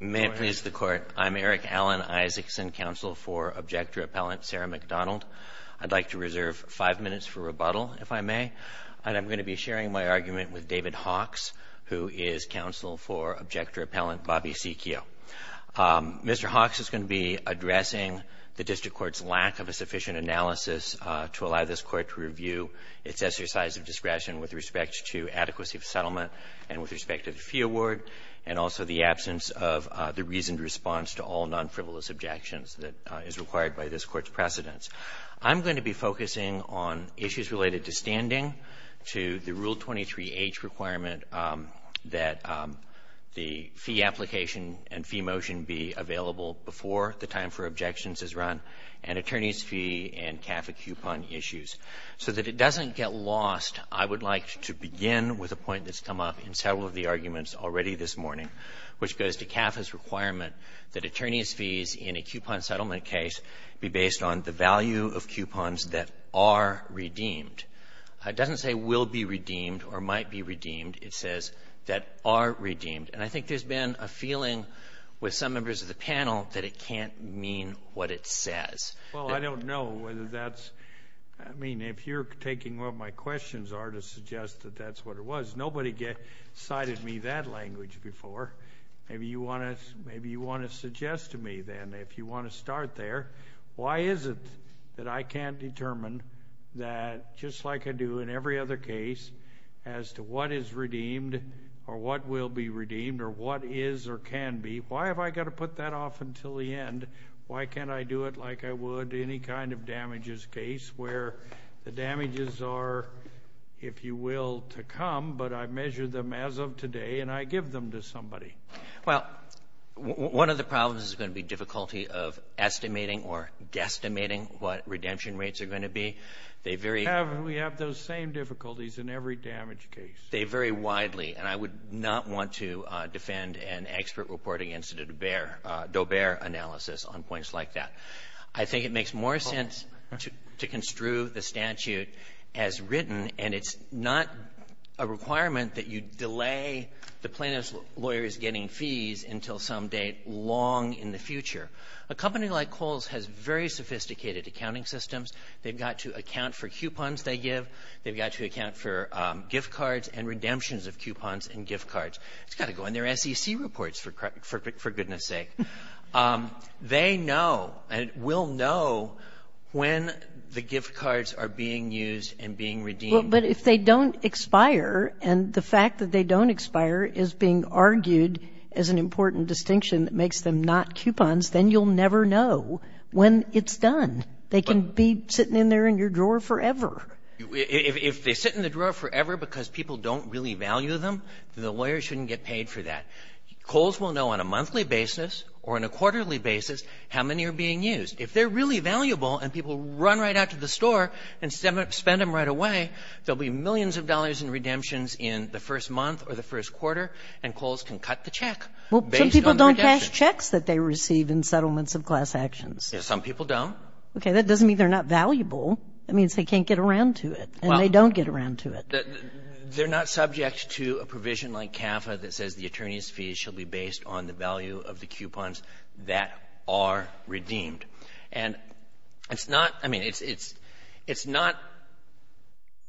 May it please the Court, I'm Eric Alan Isaacson, Counsel for Objector-Appellant Sarah McDonald. I'd like to reserve five minutes for rebuttal, if I may, and I'm going to be sharing my argument with David Hawkes, who is Counsel for Objector-Appellant Bobby Sicchio. Mr. Hawkes is going to be addressing the District Court's lack of a sufficient analysis to allow this Court to review its exercise of discretion with respect to adequacy of settlement and with respect to the fee award, and also the absence of the reasoned response to all non-frivolous objections that is required by this Court's precedents. I'm going to be focusing on issues related to standing, to the Rule 23H requirement that the fee application and fee motion be available before the time for objections is run, and attorneys' fee and CAFA coupon issues. So that it doesn't get lost, I would like to begin with a point that's come up in several of the arguments already this morning, which goes to CAFA's requirement that attorneys' fees in a coupon settlement case be based on the value of coupons that are redeemed. It doesn't say will be redeemed or might be redeemed. It says that are redeemed. And I think there's been a feeling with some members of the panel that it can't mean what it says. Well, I don't know whether that's, I mean, if you're taking what my questions are to suggest that that's what it was. Nobody cited me that language before. Maybe you want to suggest to me then, if you want to start there, why is it that I can't determine that, just like I do in every other case, as to what is redeemed or what will be redeemed or what is or can be, why have I got to put that off until the end? Why can't I do it like I would any kind of damages case where the damages are, if you will, to come, but I've measured them as of today and I give them to somebody? Well, one of the problems is going to be difficulty of estimating or guesstimating what redemption rates are going to be. They vary. We have those same difficulties in every damage case. They vary widely. And I would not want to defend an expert reporting incident of Doe-Bear analysis on points like that. I think it makes more sense to construe the statute as written, and it's not a requirement that you delay the plaintiff's lawyers getting fees until some date long in the future. A company like Kohl's has very sophisticated accounting systems. They've got to account for coupons they give. They've got to account for gift cards and redemptions of coupons and gift cards. It's got to go in their SEC reports, for goodness sake. They know and will know when the gift cards are being used and being redeemed. But if they don't expire, and the fact that they don't expire is being argued as an important distinction that makes them not coupons, then you'll never know when it's done. They can be sitting in there in your drawer forever. If they sit in the drawer forever because people don't really value them, then the lawyers shouldn't get paid for that. Kohl's will know on a monthly basis or on a quarterly basis how many are being used. If they're really valuable and people run right out to the store and spend them right away, there will be millions of dollars in redemptions in the first month or the first quarter, and Kohl's can cut the check based on the redemptions. Well, some people don't pass checks that they receive in settlements of class actions. Some people don't. Okay. That doesn't mean they're not valuable. That means they can't get around to it. And they don't get around to it. They're not subject to a provision like CAFA that says the attorney's fees should be based on the value of the coupons that are redeemed. And it's not — I mean, it's not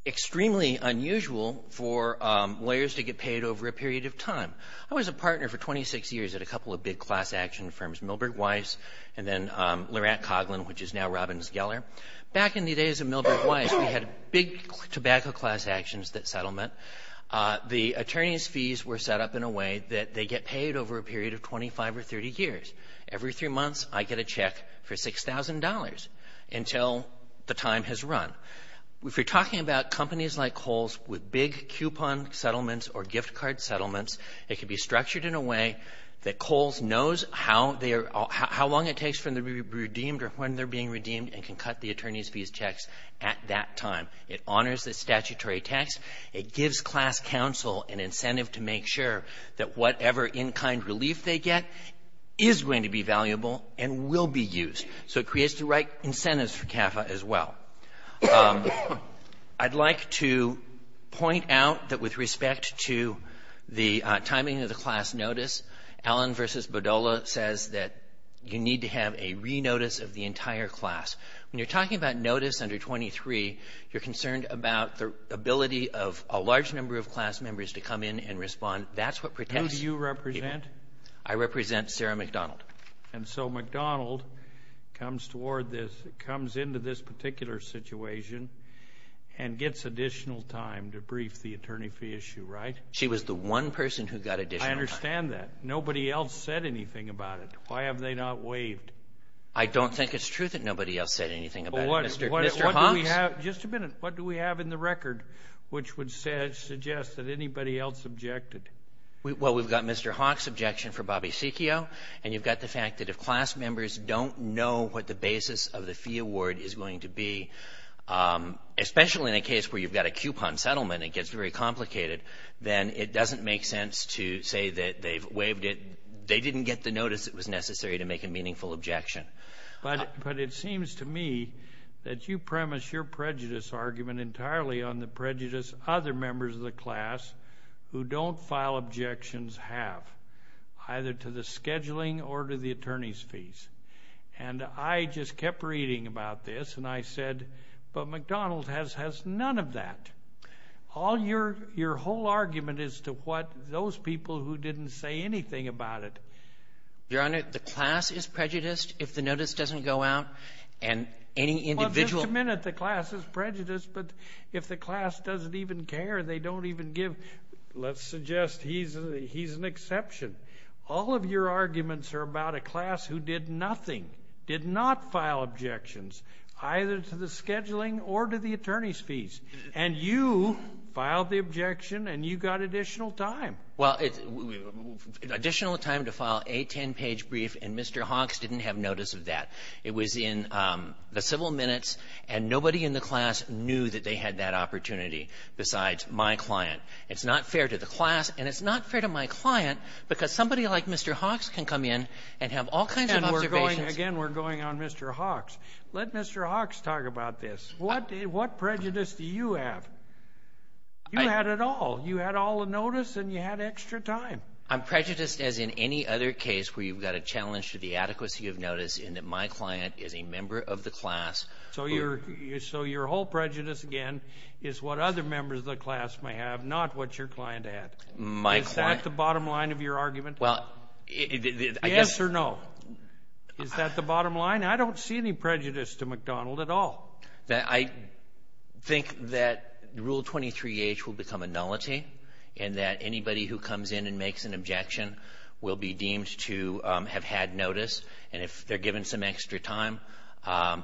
extremely unusual for lawyers to get paid over a period of time. I was a partner for 26 years at a couple of big class action firms, Milbert Weiss and then Lurant Coghlan, which is now Robbins Geller. Back in the days of Milbert Weiss, we had big tobacco class actions that settlement. The attorney's fees were set up in a way that they get paid over a period of 25 or 30 years. Every three months, I get a check for $6,000 until the time has run. If you're talking about companies like Kohl's with big coupon settlements or gift card settlements, it can be structured in a way that Kohl's knows how they are — how the attorneys' fees checks at that time. It honors the statutory tax. It gives class counsel an incentive to make sure that whatever in-kind relief they get is going to be valuable and will be used. So it creates the right incentives for CAFA as well. I'd like to point out that with respect to the timing of the class notice, Allen v. Bodola says that you need to have a re-notice of the entire class. When you're talking about notice under 23, you're concerned about the ability of a large number of class members to come in and respond. That's what protects people. Who do you represent? I represent Sarah McDonald. And so McDonald comes toward this — comes into this particular situation and gets additional time to brief the attorney fee issue, right? She was the one person who got additional time. I understand that. Nobody else said anything about it. Why have they not waived? I don't think it's true that nobody else said anything about it. Mr. Hawks? Well, what do we have — just a minute. What do we have in the record which would suggest that anybody else objected? Well, we've got Mr. Hawks' objection for Bobby Secchio, and you've got the fact that if class members don't know what the basis of the fee award is going to be, especially in a case where you've got a coupon settlement and it gets very complicated, then it doesn't make sense to say that they've waived it. They didn't get the notice that was necessary to make a meaningful objection. But it seems to me that you premise your prejudice argument entirely on the prejudice other members of the class who don't file objections have, either to the scheduling or to the attorney's fees. And I just kept reading about this, and I said, but McDonald has none of that. All your — your whole argument is to what those people who didn't say anything about it. Your Honor, the class is prejudiced if the notice doesn't go out, and any individual — Well, just a minute. The class is prejudiced, but if the class doesn't even care, they don't even give — let's suggest he's an exception. All of your arguments are about a class who did nothing, did not file objections, either to the scheduling or to the attorney's fees. And you filed the objection, and you got additional time. Well, additional time to file a 10-page brief, and Mr. Hawks didn't have notice of that. It was in the civil minutes, and nobody in the class knew that they had that opportunity besides my client. It's not fair to the class, and it's not fair to my client, because somebody like Mr. Hawks can come in and have all kinds of observations. And we're going — again, we're going on Mr. Hawks. Let Mr. Hawks talk about this. What prejudice do you have? You had it all. You had all the notice, and you had extra time. I'm prejudiced as in any other case where you've got a challenge to the adequacy of notice in that my client is a member of the class who — So your whole prejudice, again, is what other members of the class may have, not what your client had. My client — Is that the bottom line of your argument? Well, I guess — Yes or no? Is that the bottom line? I don't see any prejudice to McDonald at all. I think that Rule 23H will become a nullity, and that anybody who comes in and makes an objection will be deemed to have had notice. And if they're given some extra time,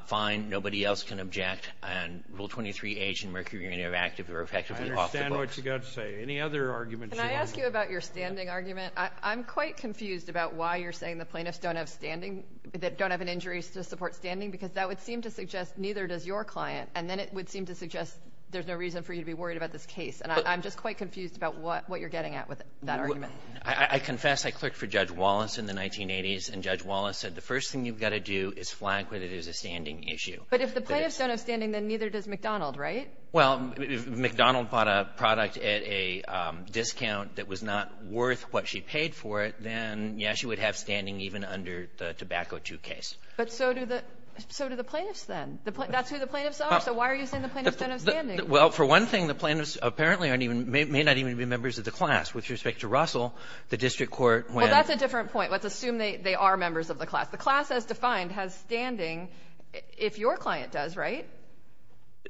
fine, nobody else can object. And Rule 23H and Mercury Interactive are effectively off the books. I understand what you've got to say. Any other arguments you want to — Can I ask you about your standing argument? I'm quite confused about why you're saying the plaintiffs don't have standing — don't have an injury to support standing, because that would seem to suggest neither does your client. And then it would seem to suggest there's no reason for you to be worried about this case. And I'm just quite confused about what you're getting at with that argument. I confess I clerked for Judge Wallace in the 1980s, and Judge Wallace said the first thing you've got to do is flag whether there's a standing issue. But if the plaintiffs don't have standing, then neither does McDonald, right? Well, if McDonald bought a product at a discount that was not worth what she paid for it, then, yes, she would have standing even under the Tobacco II case. But so do the — so do the plaintiffs, then. That's who the plaintiffs are. So why are you saying the plaintiffs don't have standing? Well, for one thing, the plaintiffs apparently aren't even — may not even be members of the class. With respect to Russell, the district court, when — Well, that's a different point. Let's assume they are members of the class. The class as defined has standing if your client does, right?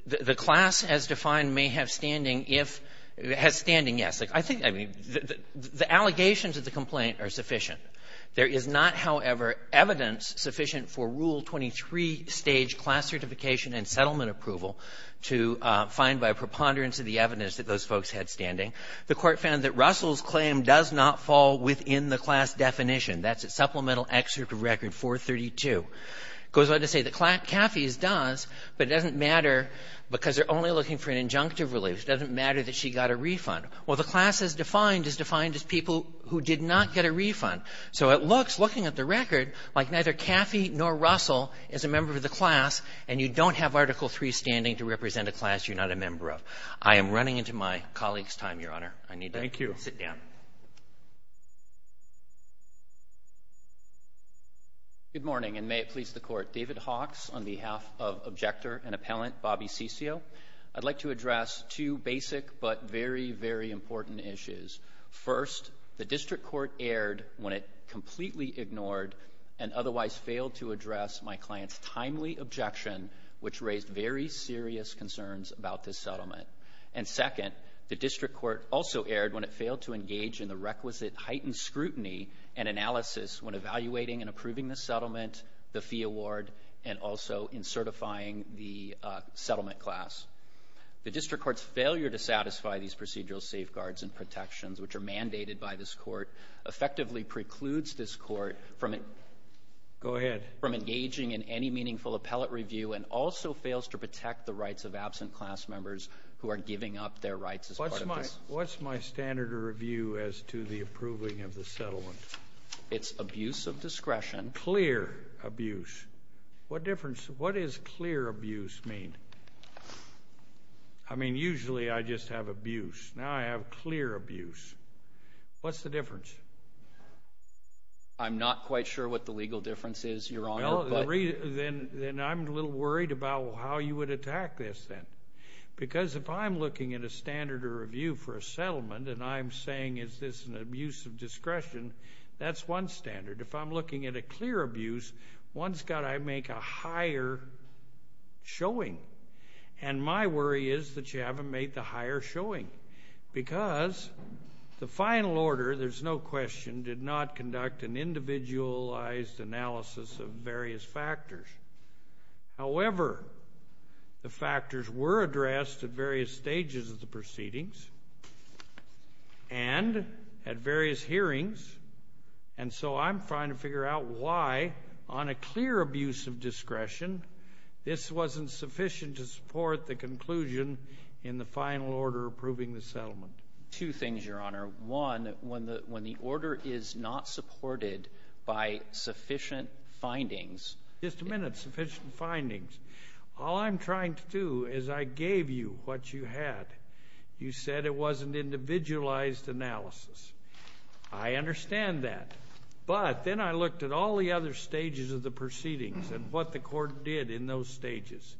The class as defined may have standing if — has standing, yes. I think — I mean, the allegations of the complaint are sufficient. There is not, however, evidence sufficient for Rule 23 stage class certification and settlement approval to find by preponderance of the evidence that those folks had standing. The Court found that Russell's claim does not fall within the class definition. That's at Supplemental Excerpt of Record 432. It goes on to say that Caffey's does, but it doesn't matter because they're only looking for an injunctive relief. It doesn't matter that she got a refund. Well, the class as defined is defined as people who did not get a refund. So it looks, looking at the record, like neither Caffey nor Russell is a member of the class, and you don't have Article III standing to represent a class you're not a member of. I am running into my colleague's time, Your Honor. I need to sit down. Good morning, and may it please the Court. David Hawkes on behalf of objector and appellant Bobby Ciccio. I'd like to address two basic but very, very important issues. First, the District Court erred when it completely ignored and otherwise failed to address my client's timely objection, which raised very serious concerns about this settlement. And second, the District Court also erred when it failed to engage in the requisite heightened scrutiny and analysis when evaluating and approving the settlement, the fee award, and also in certifying the settlement class. The District Court's failure to satisfy these procedural safeguards and protections, which are mandated by this Court, effectively precludes this Court from it. Go ahead. From engaging in any meaningful appellate review and also fails to protect the rights of absent class members who are giving up their rights as part of this. What's my standard of review as to the approving of the settlement? It's abuse of discretion. Clear abuse. What difference... What does clear abuse mean? I mean, usually, I just have abuse. Now, I have clear abuse. What's the difference? I'm not quite sure what the legal difference is, Your Honor, but... Well, then I'm a little worried about how you would attack this then. Because if I'm looking at a standard of review for a settlement and I'm saying, is this an abuse of discretion? That's one standard. If I'm looking at a clear abuse, one's got to make a higher showing. And my worry is that you haven't made the higher showing because the final order, there's no question, did not conduct an individualized analysis of various factors. However, the factors were addressed at various stages of the proceedings and at various hearings. And so I'm trying to figure out why, on a clear abuse of discretion, this wasn't sufficient to support the conclusion in the final order approving the settlement. Two things, Your Honor. One, when the order is not supported by sufficient findings... Just a minute, sufficient findings. All I'm trying to do is I gave you what you had. You said it wasn't individualized analysis. I understand that. But then I looked at all the other stages of the proceedings and what the court did in those stages.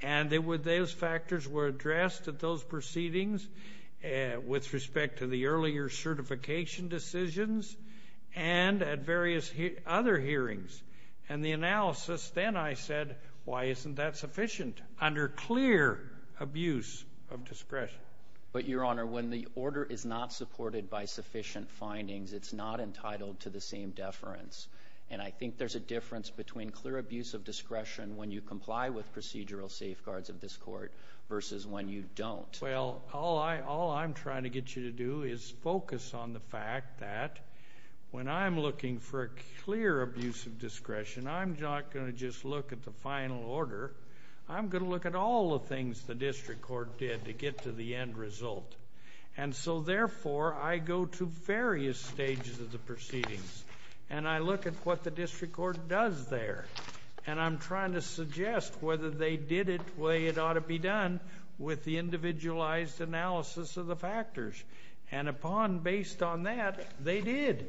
And those factors were addressed at those proceedings with respect to the earlier certification decisions and at various other hearings. And the analysis, then I said, why isn't that sufficient under clear abuse of discretion? But Your Honor, when the order is not supported by sufficient findings, it's not entitled to the same deference. And I think there's a difference between clear abuse of discretion when you comply with procedural safeguards of this court versus when you don't. Well, all I'm trying to get you to do is focus on the fact that when I'm looking for a clear abuse of discretion, I'm not going to just look at the final order. I'm going to look at all the things the district court did to get to the end result. And so therefore, I go to various stages of the proceedings. And I look at what the district court does there. And I'm trying to suggest whether they did it the way it ought to be done with the individualized analysis of the factors. And upon based on that, they did.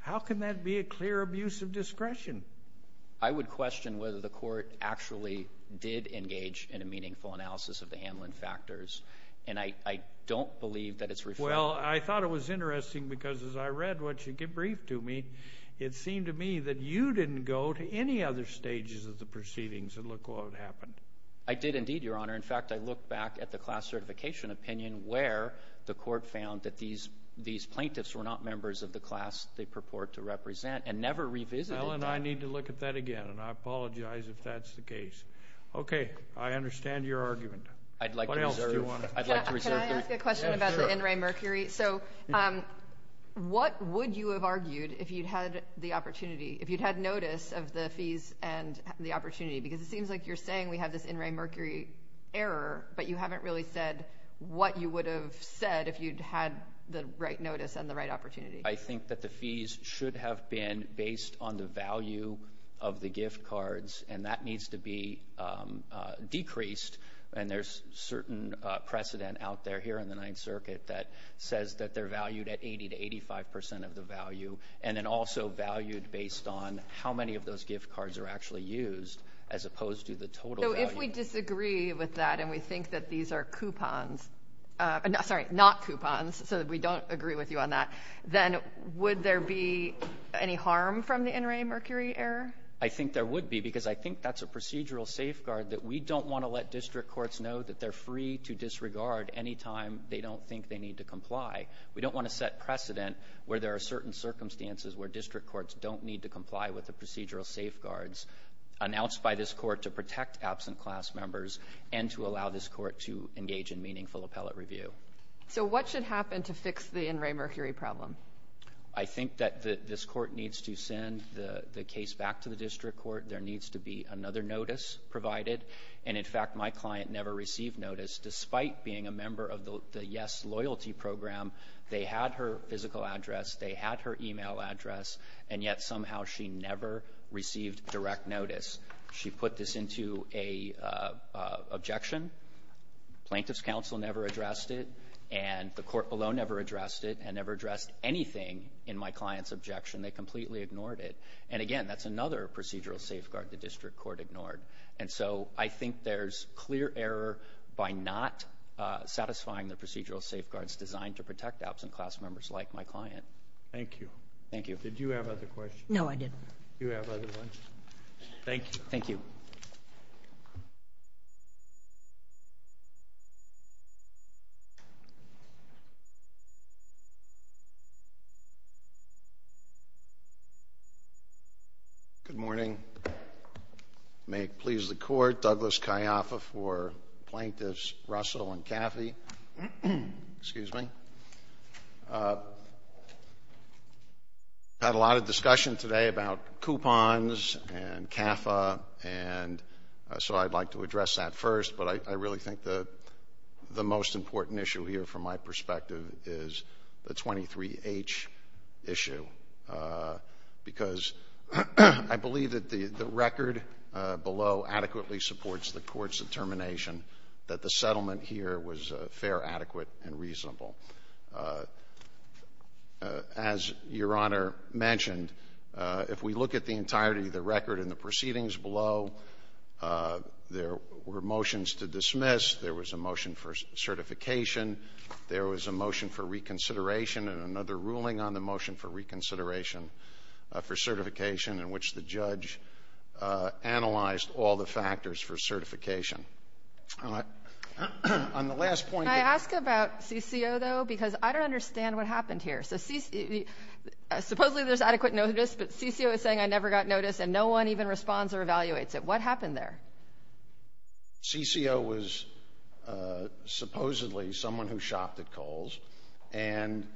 How can that be a clear abuse of discretion? I would question whether the court actually did engage in a meaningful analysis of the Hamlin factors. And I don't believe that it's reflected. Well, I thought it was interesting. Because as I read what you briefed to me, it seemed to me that you didn't go to any other stages of the proceedings and look what happened. I did indeed, Your Honor. In fact, I look back at the class certification opinion where the court found that these plaintiffs were not members of the class they purport to represent and never revisited that. Well, and I need to look at that again. And I apologize if that's the case. OK. I understand your argument. I'd like to reserve. Can I ask a question about the in re mercury? So what would you have argued if you'd had the opportunity, if you'd had notice of the fees and the opportunity? Because it seems like you're saying we have this in re mercury error. But you haven't really said what you would have said if you'd had the right notice and the right opportunity. I think that the fees should have been based on the value of the gift cards. And that needs to be decreased. And there's certain precedent out there here in the Ninth Circuit that says that they're valued at 80% to 85% of the value. And then also valued based on how many of those gift cards are actually used as opposed to the total value. So if we disagree with that and we think that these are coupons, sorry, not coupons, so that we don't agree with you on that, then would there be any harm from the in re mercury error? I think there would be. Because I think that's a procedural safeguard that we don't want to let district courts know that they're free to disregard any time they don't think they need to comply. We don't want to set precedent where there are certain circumstances where district courts don't need to comply with the procedural safeguards announced by this court to protect absent class members and to allow this court to engage in meaningful appellate review. So what should happen to fix the in re mercury problem? I think that this court needs to send the case back to the district court. There needs to be another notice provided. And in fact, my client never received notice despite being a member of the Yes Loyalty Program. They had her physical address. They had her email address. And yet somehow she never received direct notice. She put this into an objection. Plaintiff's counsel never addressed it. And the court below never addressed it and never addressed anything in my client's objection. They completely ignored it. And again, that's another procedural safeguard the district court ignored. And so I think there's clear error by not satisfying the procedural safeguards designed to protect absent class members like my client. Thank you. Thank you. Did you have other questions? No, I didn't. Do you have other ones? Thank you. Thank you. Thank you. Good morning. May it please the court, Douglas Ciaffa for Plaintiffs Russell and Caffey. Excuse me. Had a lot of discussion today about coupons and CAFA. And so I'd like to address that first. But I really think the most important issue here from my perspective is the 23H issue. Because I believe that the record below adequately supports the court's determination that the settlement here was fair, adequate, and reasonable. As Your Honor mentioned, if we look at the entirety of the record and the proceedings below, there were motions to dismiss. There was a motion for certification. There was a motion for reconsideration and another ruling on the motion for reconsideration for certification in which the judge analyzed all the factors for certification. On the last point. Can I ask about CCO, though? Because I don't understand what happened here. Supposedly there's adequate notice, but CCO is saying I never got notice and no one even responds or evaluates it. What happened there? CCO was supposedly someone who shopped at Kohl's. And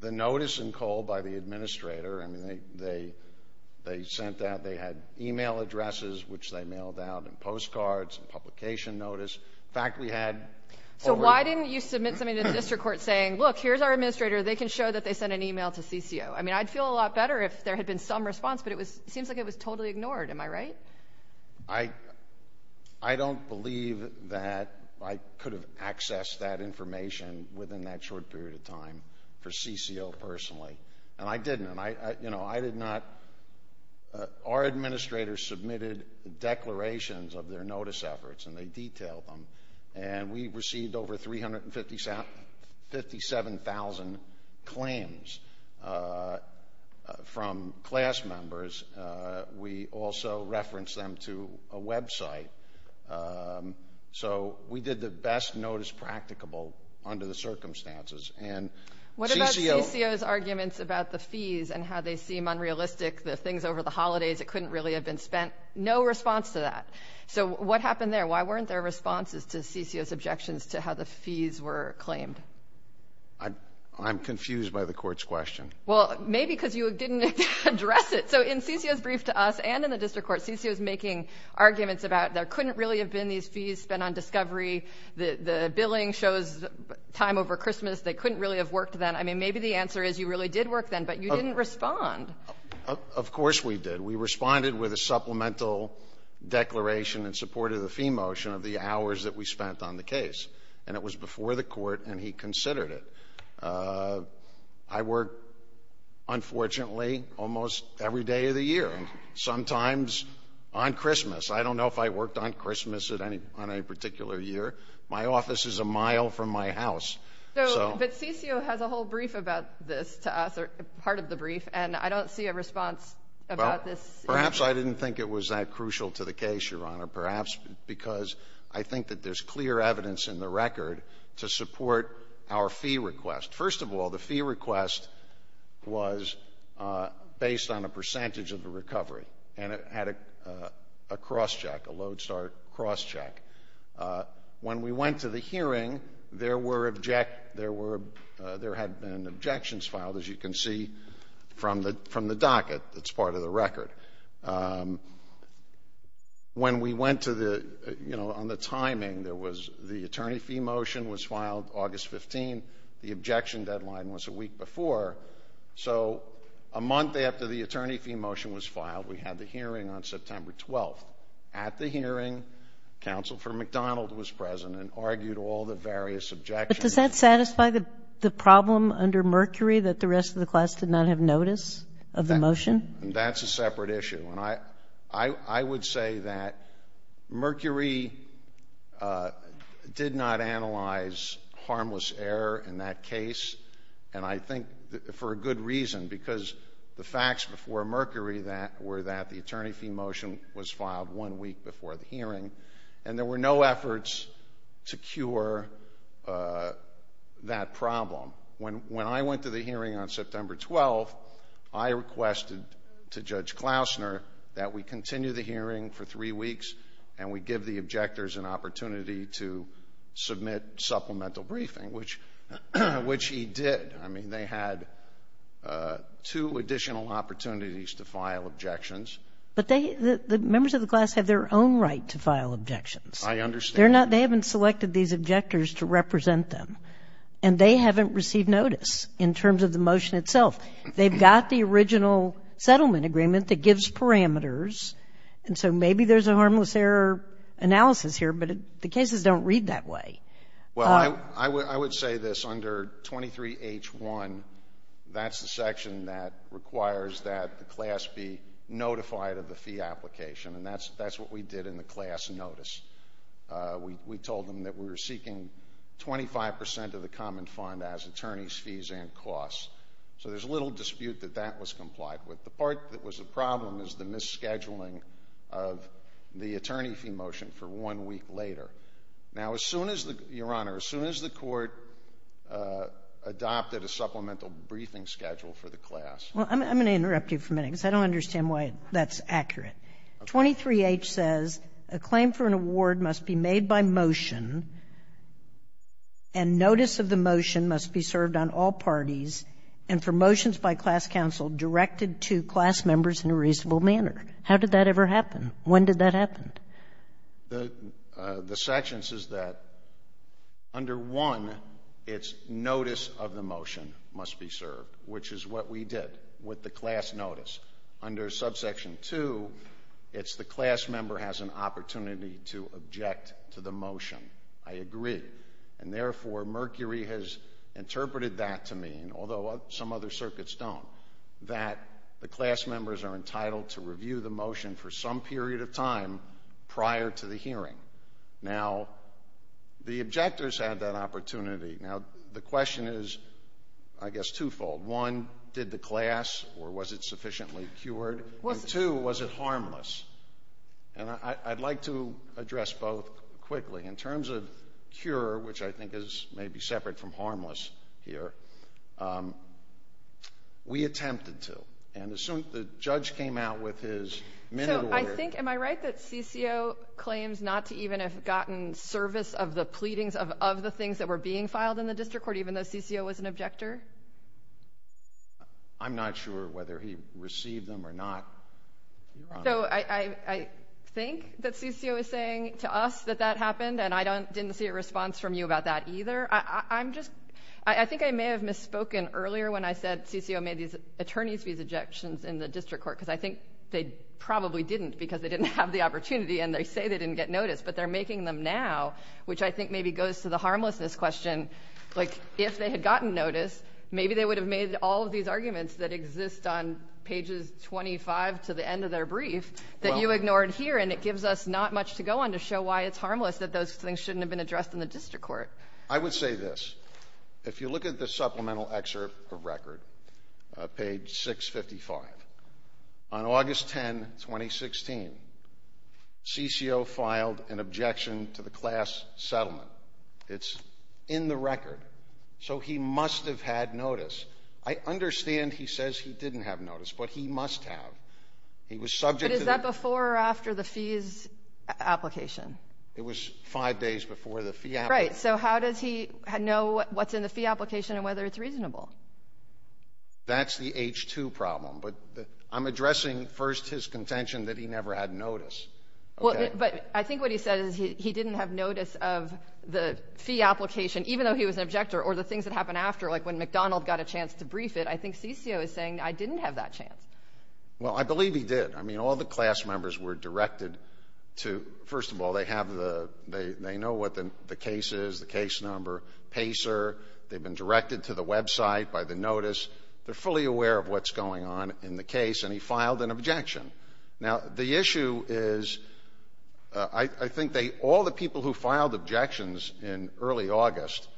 the notice in Kohl by the administrator, I mean, they sent out, they had email addresses, which they mailed out in postcards and publication notice. In fact, we had over- So why didn't you submit something to the district court saying, look, here's our administrator. They can show that they sent an email to CCO. I mean, I'd feel a lot better if there had been some response, but it seems like it was totally ignored. Am I right? I don't believe that I could have accessed that information within that short period of time for CCO personally. And I didn't. I did not. Our administrator submitted declarations of their notice efforts, and they detailed them. And we received over 357,000 claims from class members. We also referenced them to a website. So we did the best notice practicable under the circumstances. And CCO- What about CCO's arguments about the fees and how they seem unrealistic, the things over the holidays, it couldn't really have been spent? No response to that. So what happened there? Why weren't there responses to CCO's objections to how the fees were claimed? I'm confused by the court's question. Well, maybe because you didn't address it. So in CCO's brief to us and in the district court, CCO's making arguments about there couldn't really have been these fees spent on discovery. The billing shows time over Christmas. They couldn't really have worked then. I mean, maybe the answer is you really did work then, but you didn't respond. Of course we did. We responded with a supplemental declaration in support of the fee motion of the hours that we spent on the case. And it was before the court and he considered it. I work, unfortunately, almost every day of the year, and sometimes on Christmas. I don't know if I worked on Christmas on any particular year. My office is a mile from my house. But CCO has a whole brief about this to us, part of the brief, and I don't see a response about this. Perhaps I didn't think it was that crucial to the case, Your Honor, perhaps because I think that there's clear evidence in the record to support our fee request. First of all, the fee request was based on a percentage of the recovery, and it had a cross-check, a load-start cross-check. When we went to the hearing, there were, there had been objections filed, as you can see, from the docket that's part of the record. When we went to the, you know, on the timing, there was the attorney fee motion was filed August 15. The objection deadline was a week before. So a month after the attorney fee motion was filed, we had the hearing on September 12th. At the hearing, Counsel for McDonald was present and argued all the various objections. But does that satisfy the problem under Mercury that the rest of the class did not have notice of the motion? And that's a separate issue. And I would say that Mercury did not analyze harmless error in that case, and I think for a good reason, because the facts before Mercury were that the attorney fee motion was filed one week before the hearing, and there were no efforts to cure that problem. When I went to the hearing on September 12th, I requested to Judge Klausner that we continue the hearing for three weeks and we give the objectors an opportunity to submit supplemental briefing, which he did. I mean, they had two additional opportunities to file objections. But they, the members of the class have their own right to file objections. I understand. They haven't selected these objectors to represent them, and they haven't received notice in terms of the motion itself. They've got the original settlement agreement that gives parameters, and so maybe there's a harmless error analysis here, but the cases don't read that way. Well, I would say this. Under 23H1, that's the section that requires that the class be notified of the fee application, and that's what we did in the class notice. We told them that we were seeking 25% of the common fund as attorneys' fees and costs. So there's little dispute that that was complied with. The part that was a problem is the misscheduling of the attorney fee motion for one week later. Now, as soon as the, Your Honor, as soon as the court adopted a supplemental briefing schedule for the class. Well, I'm going to interrupt you for a minute because I don't understand why that's accurate. 23H says a claim for an award must be made by motion, and notice of the motion must be served on all parties, and for motions by class counsel directed to class members in a reasonable manner. How did that ever happen? When did that happen? The sections is that under one, it's notice of the motion must be served, which is what we did with the class notice. Under subsection two, it's the class member has an opportunity to object to the motion. I agree. And therefore, Mercury has interpreted that to mean, although some other circuits don't, that the class members are entitled to review the motion for some period of time prior to the hearing. Now, the objectors had that opportunity. Now, the question is, I guess, twofold. One, did the class, or was it sufficiently cured? And two, was it harmless? And I'd like to address both quickly. In terms of cure, which I think is maybe separate from harmless here, we attempted to, and as soon as the judge came out with his minute order. So I think, am I right that CCO claims not to even have gotten service of the pleadings of the things that were being filed in the district court, even though CCO was an objector? I'm not sure whether he received them or not. So I think that CCO is saying to us that that happened, and I didn't see a response from you about that either. I think I may have misspoken earlier when I said CCO made these attorney's visa objections in the district court, because I think they probably didn't, because they didn't have the opportunity, and they say they didn't get notice, but they're making them now, which I think maybe goes to the harmlessness question. Like, if they had gotten notice, maybe they would have made all of these arguments that exist on pages 25 to the end of their brief that you ignored here, and it gives us not much to go on to show why it's harmless, that those things shouldn't have been addressed in the district court. I would say this. If you look at the supplemental excerpt of record, page 655, on August 10, 2016, CCO filed an objection to the class settlement. It's in the record. So he must have had notice. I understand he says he didn't have notice, but he must have. He was subject to the- But is that before or after the fees application? It was five days before the fee application. Right, so how does he know what's in the fee application and whether it's reasonable? That's the H-2 problem, but I'm addressing first his contention that he never had notice, okay? But I think what he said is he didn't have notice of the fee application, even though he was an objector, or the things that happened after, like when McDonald got a chance to brief it, I think CCO is saying, I didn't have that chance. Well, I believe he did. I mean, all the class members were directed to, first of all, they know what the case is, the case number, PACER. They've been directed to the website by the notice. They're fully aware of what's going on in the case, and he filed an objection. Now, the issue is, I think all the people who filed objections in early August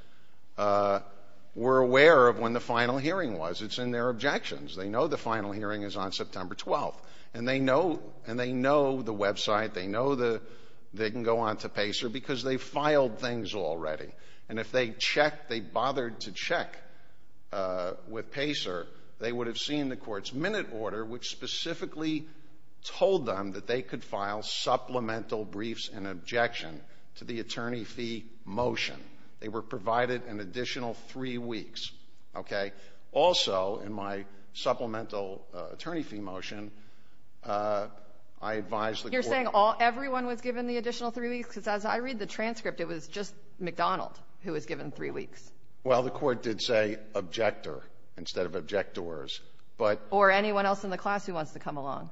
were aware of when the final hearing was. It's in their objections. They know the final hearing is on September 12th, and they know the website. They know they can go on to PACER because they filed things already, and if they checked, they bothered to check with PACER, they would have seen the court's minute order, which specifically told them that they could file supplemental briefs and objection to the attorney fee motion. They were provided an additional three weeks, okay? Also, in my supplemental attorney fee motion, I advised the court- You're saying everyone was given the additional three weeks? Because as I read the transcript, it was just McDonald who was given three weeks. Well, the court did say objector instead of objectors, but- Or anyone else in the class who wants to come along.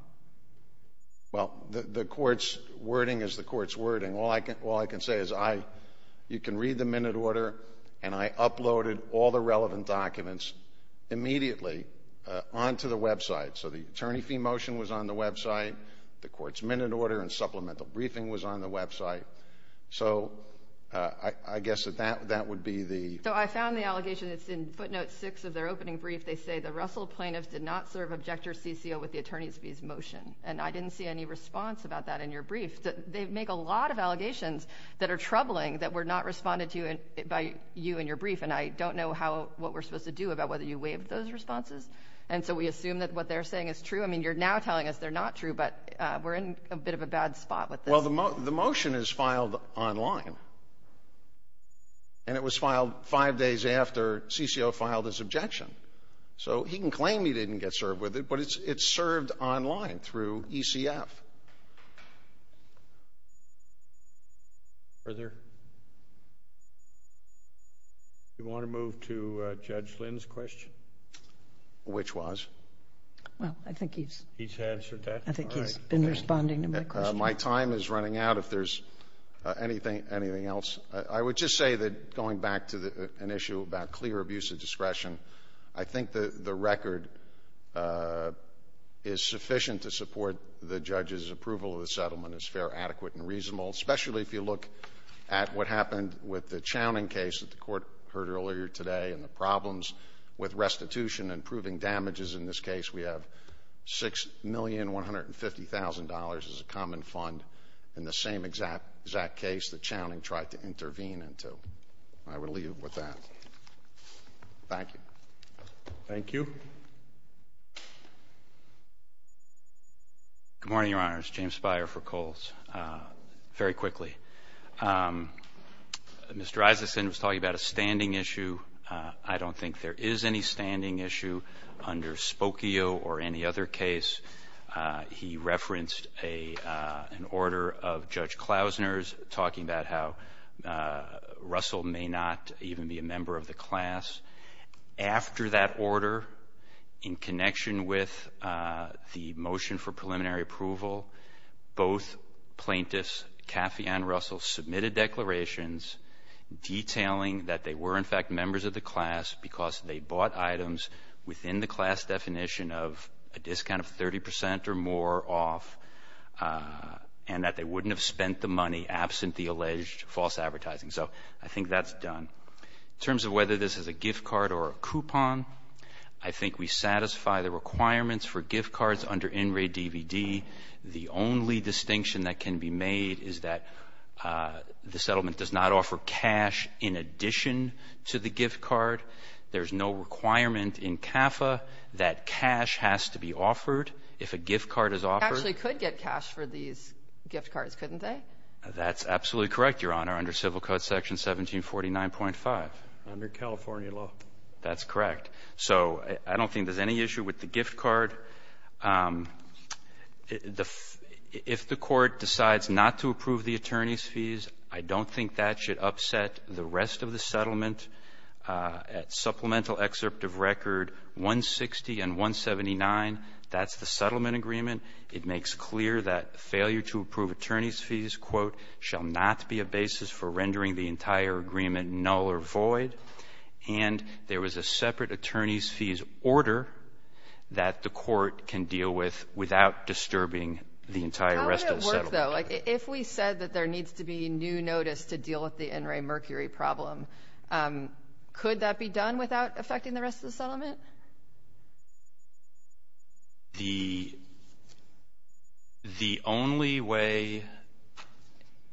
Well, the court's wording is the court's wording. All I can say is you can read the minute order, and I uploaded all the relevant documents immediately onto the website. So the attorney fee motion was on the website, the court's minute order, and supplemental briefing was on the website. So I guess that that would be the- So I found the allegation that's in footnote six of their opening brief. They say the Russell plaintiffs did not serve objector CCO with the attorney's fees motion, and I didn't see any response about that in your brief. They make a lot of allegations that are troubling that were not responded to by you in your brief, and I don't know what we're supposed to do about whether you waived those responses. And so we assume that what they're saying is true. I mean, you're now telling us they're not true, but we're in a bit of a bad spot with this. Well, the motion is filed online, and it was filed five days after CCO filed his objection. So he can claim he didn't get served with it, but it's served online through ECF. Thank you. Further? You want to move to Judge Lynn's question? Which was? Well, I think he's- He's answered that. I think he's been responding to my question. My time is running out. If there's anything else, I would just say that going back to an issue about clear abuse of discretion, I think the record is sufficient to support the judge's approval of the settlement and is fair, adequate, and reasonable, especially if you look at what happened with the Chowning case that the court heard earlier today and the problems with restitution and proving damages. In this case, we have $6,150,000 as a common fund in the same exact case that Chowning tried to intervene into. I would leave with that. Thank you. Thank you. Good morning, Your Honors. James Speyer for Coles. Very quickly. Mr. Isason was talking about a standing issue. I don't think there is any standing issue under Spokio or any other case. He referenced an order of Judge Klausner's talking about how Russell may not even be a member of the class. After that order, in connection with the motion for preliminary approval, both plaintiffs, Caffey and Russell, submitted declarations detailing that they were in fact members of the class because they bought items within the class definition of a discount of 30% or more off and that they wouldn't have spent the money absent the alleged false advertising. So I think that's done. In terms of whether this is a gift card or a coupon, I think we satisfy the requirements for gift cards under NRAID-DVD. The only distinction that can be made is that the settlement does not offer cash in addition to the gift card. There's no requirement in CAFA that cash has to be offered if a gift card is offered. They actually could get cash for these gift cards, couldn't they? That's absolutely correct, Your Honor, under Civil Code section 1749.5. Under California law. That's correct. So I don't think there's any issue with the gift card. If the court decides not to approve the attorney's fees, I don't think that should upset the rest of the settlement. At supplemental excerpt of record 160 and 179, that's the settlement agreement. It makes clear that failure to approve attorney's fees, quote, shall not be a basis for rendering the entire agreement null or void. And there was a separate attorney's fees order that the court can deal with without disturbing the entire rest of the settlement. How would it work, though? Like, if we said that there needs to be new notice to deal with the NRAID-Mercury problem, could that be done without affecting the rest of the settlement? The only way...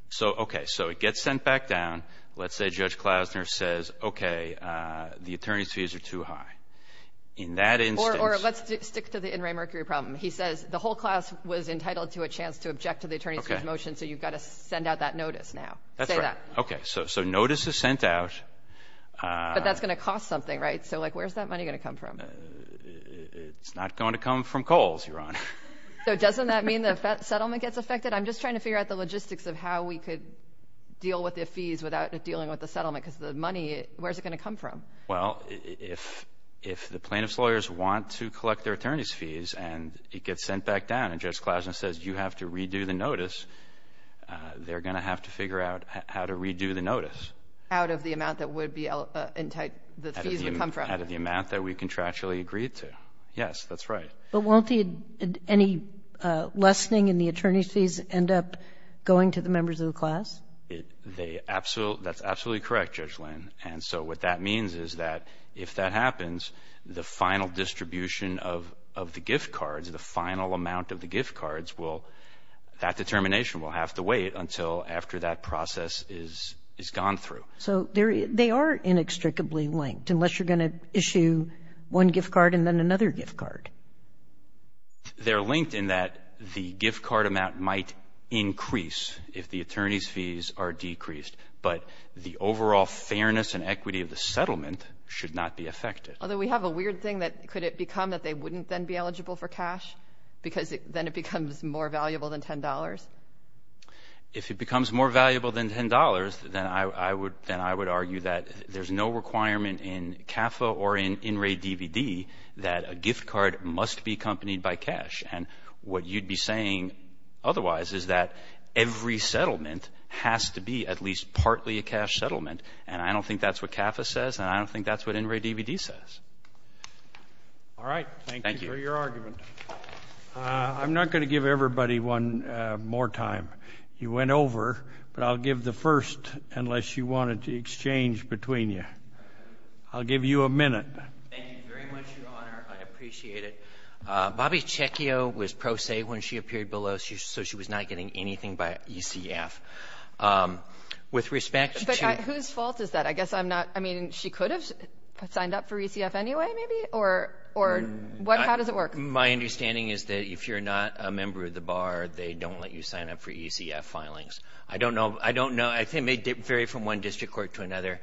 So, okay, so it gets sent back down. Let's say Judge Klausner says, okay, the attorney's fees are too high. In that instance... Or let's stick to the NRAID-Mercury problem. He says, the whole class was entitled to a chance to object to the attorney's fees motion, so you've got to send out that notice now. Say that. Okay, so notice is sent out. But that's going to cost something, right? So, like, where's that money going to come from? It's not going to come from Kohl's, Your Honor. So doesn't that mean the settlement gets affected? I'm just trying to figure out the logistics of how we could deal with the fees without dealing with the settlement, because the money, where's it going to come from? Well, if the plaintiff's lawyers want to collect their attorney's fees and it gets sent back down, and Judge Klausner says you have to redo the notice, they're going to have to figure out how to redo the notice. Out of the amount that would be entitled, the fees would come from. Out of the amount that we contractually agreed to. Yes, that's right. But won't any lessening in the attorney's fees end up going to the members of the class? That's absolutely correct, Judge Lynn. And so what that means is that if that happens, the final distribution of the gift cards, the final amount of the gift cards will, that determination will have to wait until after that process is gone through. So they are inextricably linked, unless you're going to issue one gift card and then another gift card. They're linked in that the gift card amount might increase if the attorney's fees are decreased, but the overall fairness and equity of the settlement should not be affected. Although we have a weird thing that could it become that they wouldn't then be eligible for cash? Because then it becomes more valuable than $10? If it becomes more valuable than $10, then I would argue that there's no requirement in CAFA or in In Re DVD that a gift card must be accompanied by cash. And what you'd be saying otherwise is that every settlement has to be at least partly a cash settlement. And I don't think that's what CAFA says and I don't think that's what In Re DVD says. All right. Thank you for your argument. Thank you. I'm not going to give everybody one more time. You went over, but I'll give the first unless you wanted to exchange between you. I'll give you a minute. Thank you very much, Your Honor. I appreciate it. Bobby Cecchio was pro se when she appeared below. So she was not getting anything by ECF. With respect to- But whose fault is that? I guess I'm not, I mean, she could have signed up for ECF anyway, maybe? Or how does it work? My understanding is that if you're not a member of the bar, they don't let you sign up for ECF filings. I don't know. I think it may vary from one district court to another.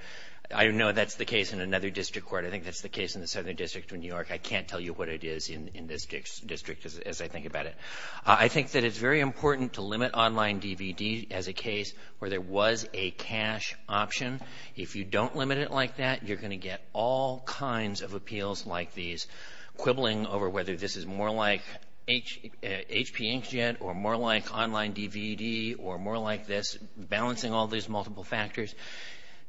I don't know if that's the case in another district court. I think that's the case in the Southern District of New York. I can't tell you what it is in this district as I think about it. I think that it's very important to limit online DVD as a case where there was a cash option. If you don't limit it like that, you're gonna get all kinds of appeals like these quibbling over whether this is more like HP Inkjet or more like online DVD or more like this, balancing all these multiple factors.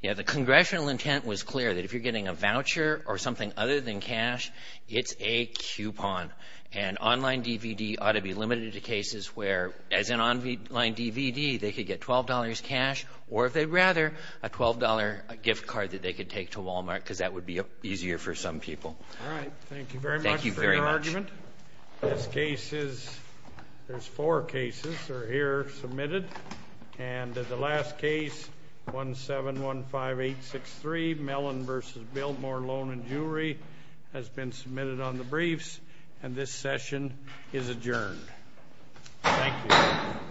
You know, the congressional intent was clear that if you're getting a voucher or something other than cash, it's a coupon. And online DVD ought to be limited to cases where as an online DVD, they could get $12 cash or if they'd rather, a $12 gift card that they could take to Walmart because that would be easier for some people. All right, thank you very much for your argument. This case is, there's four cases that are here submitted. And the last case, 1715863, Mellon v. Biltmore Loan and Jewelry has been submitted on the briefs. And this session is adjourned. Thank you.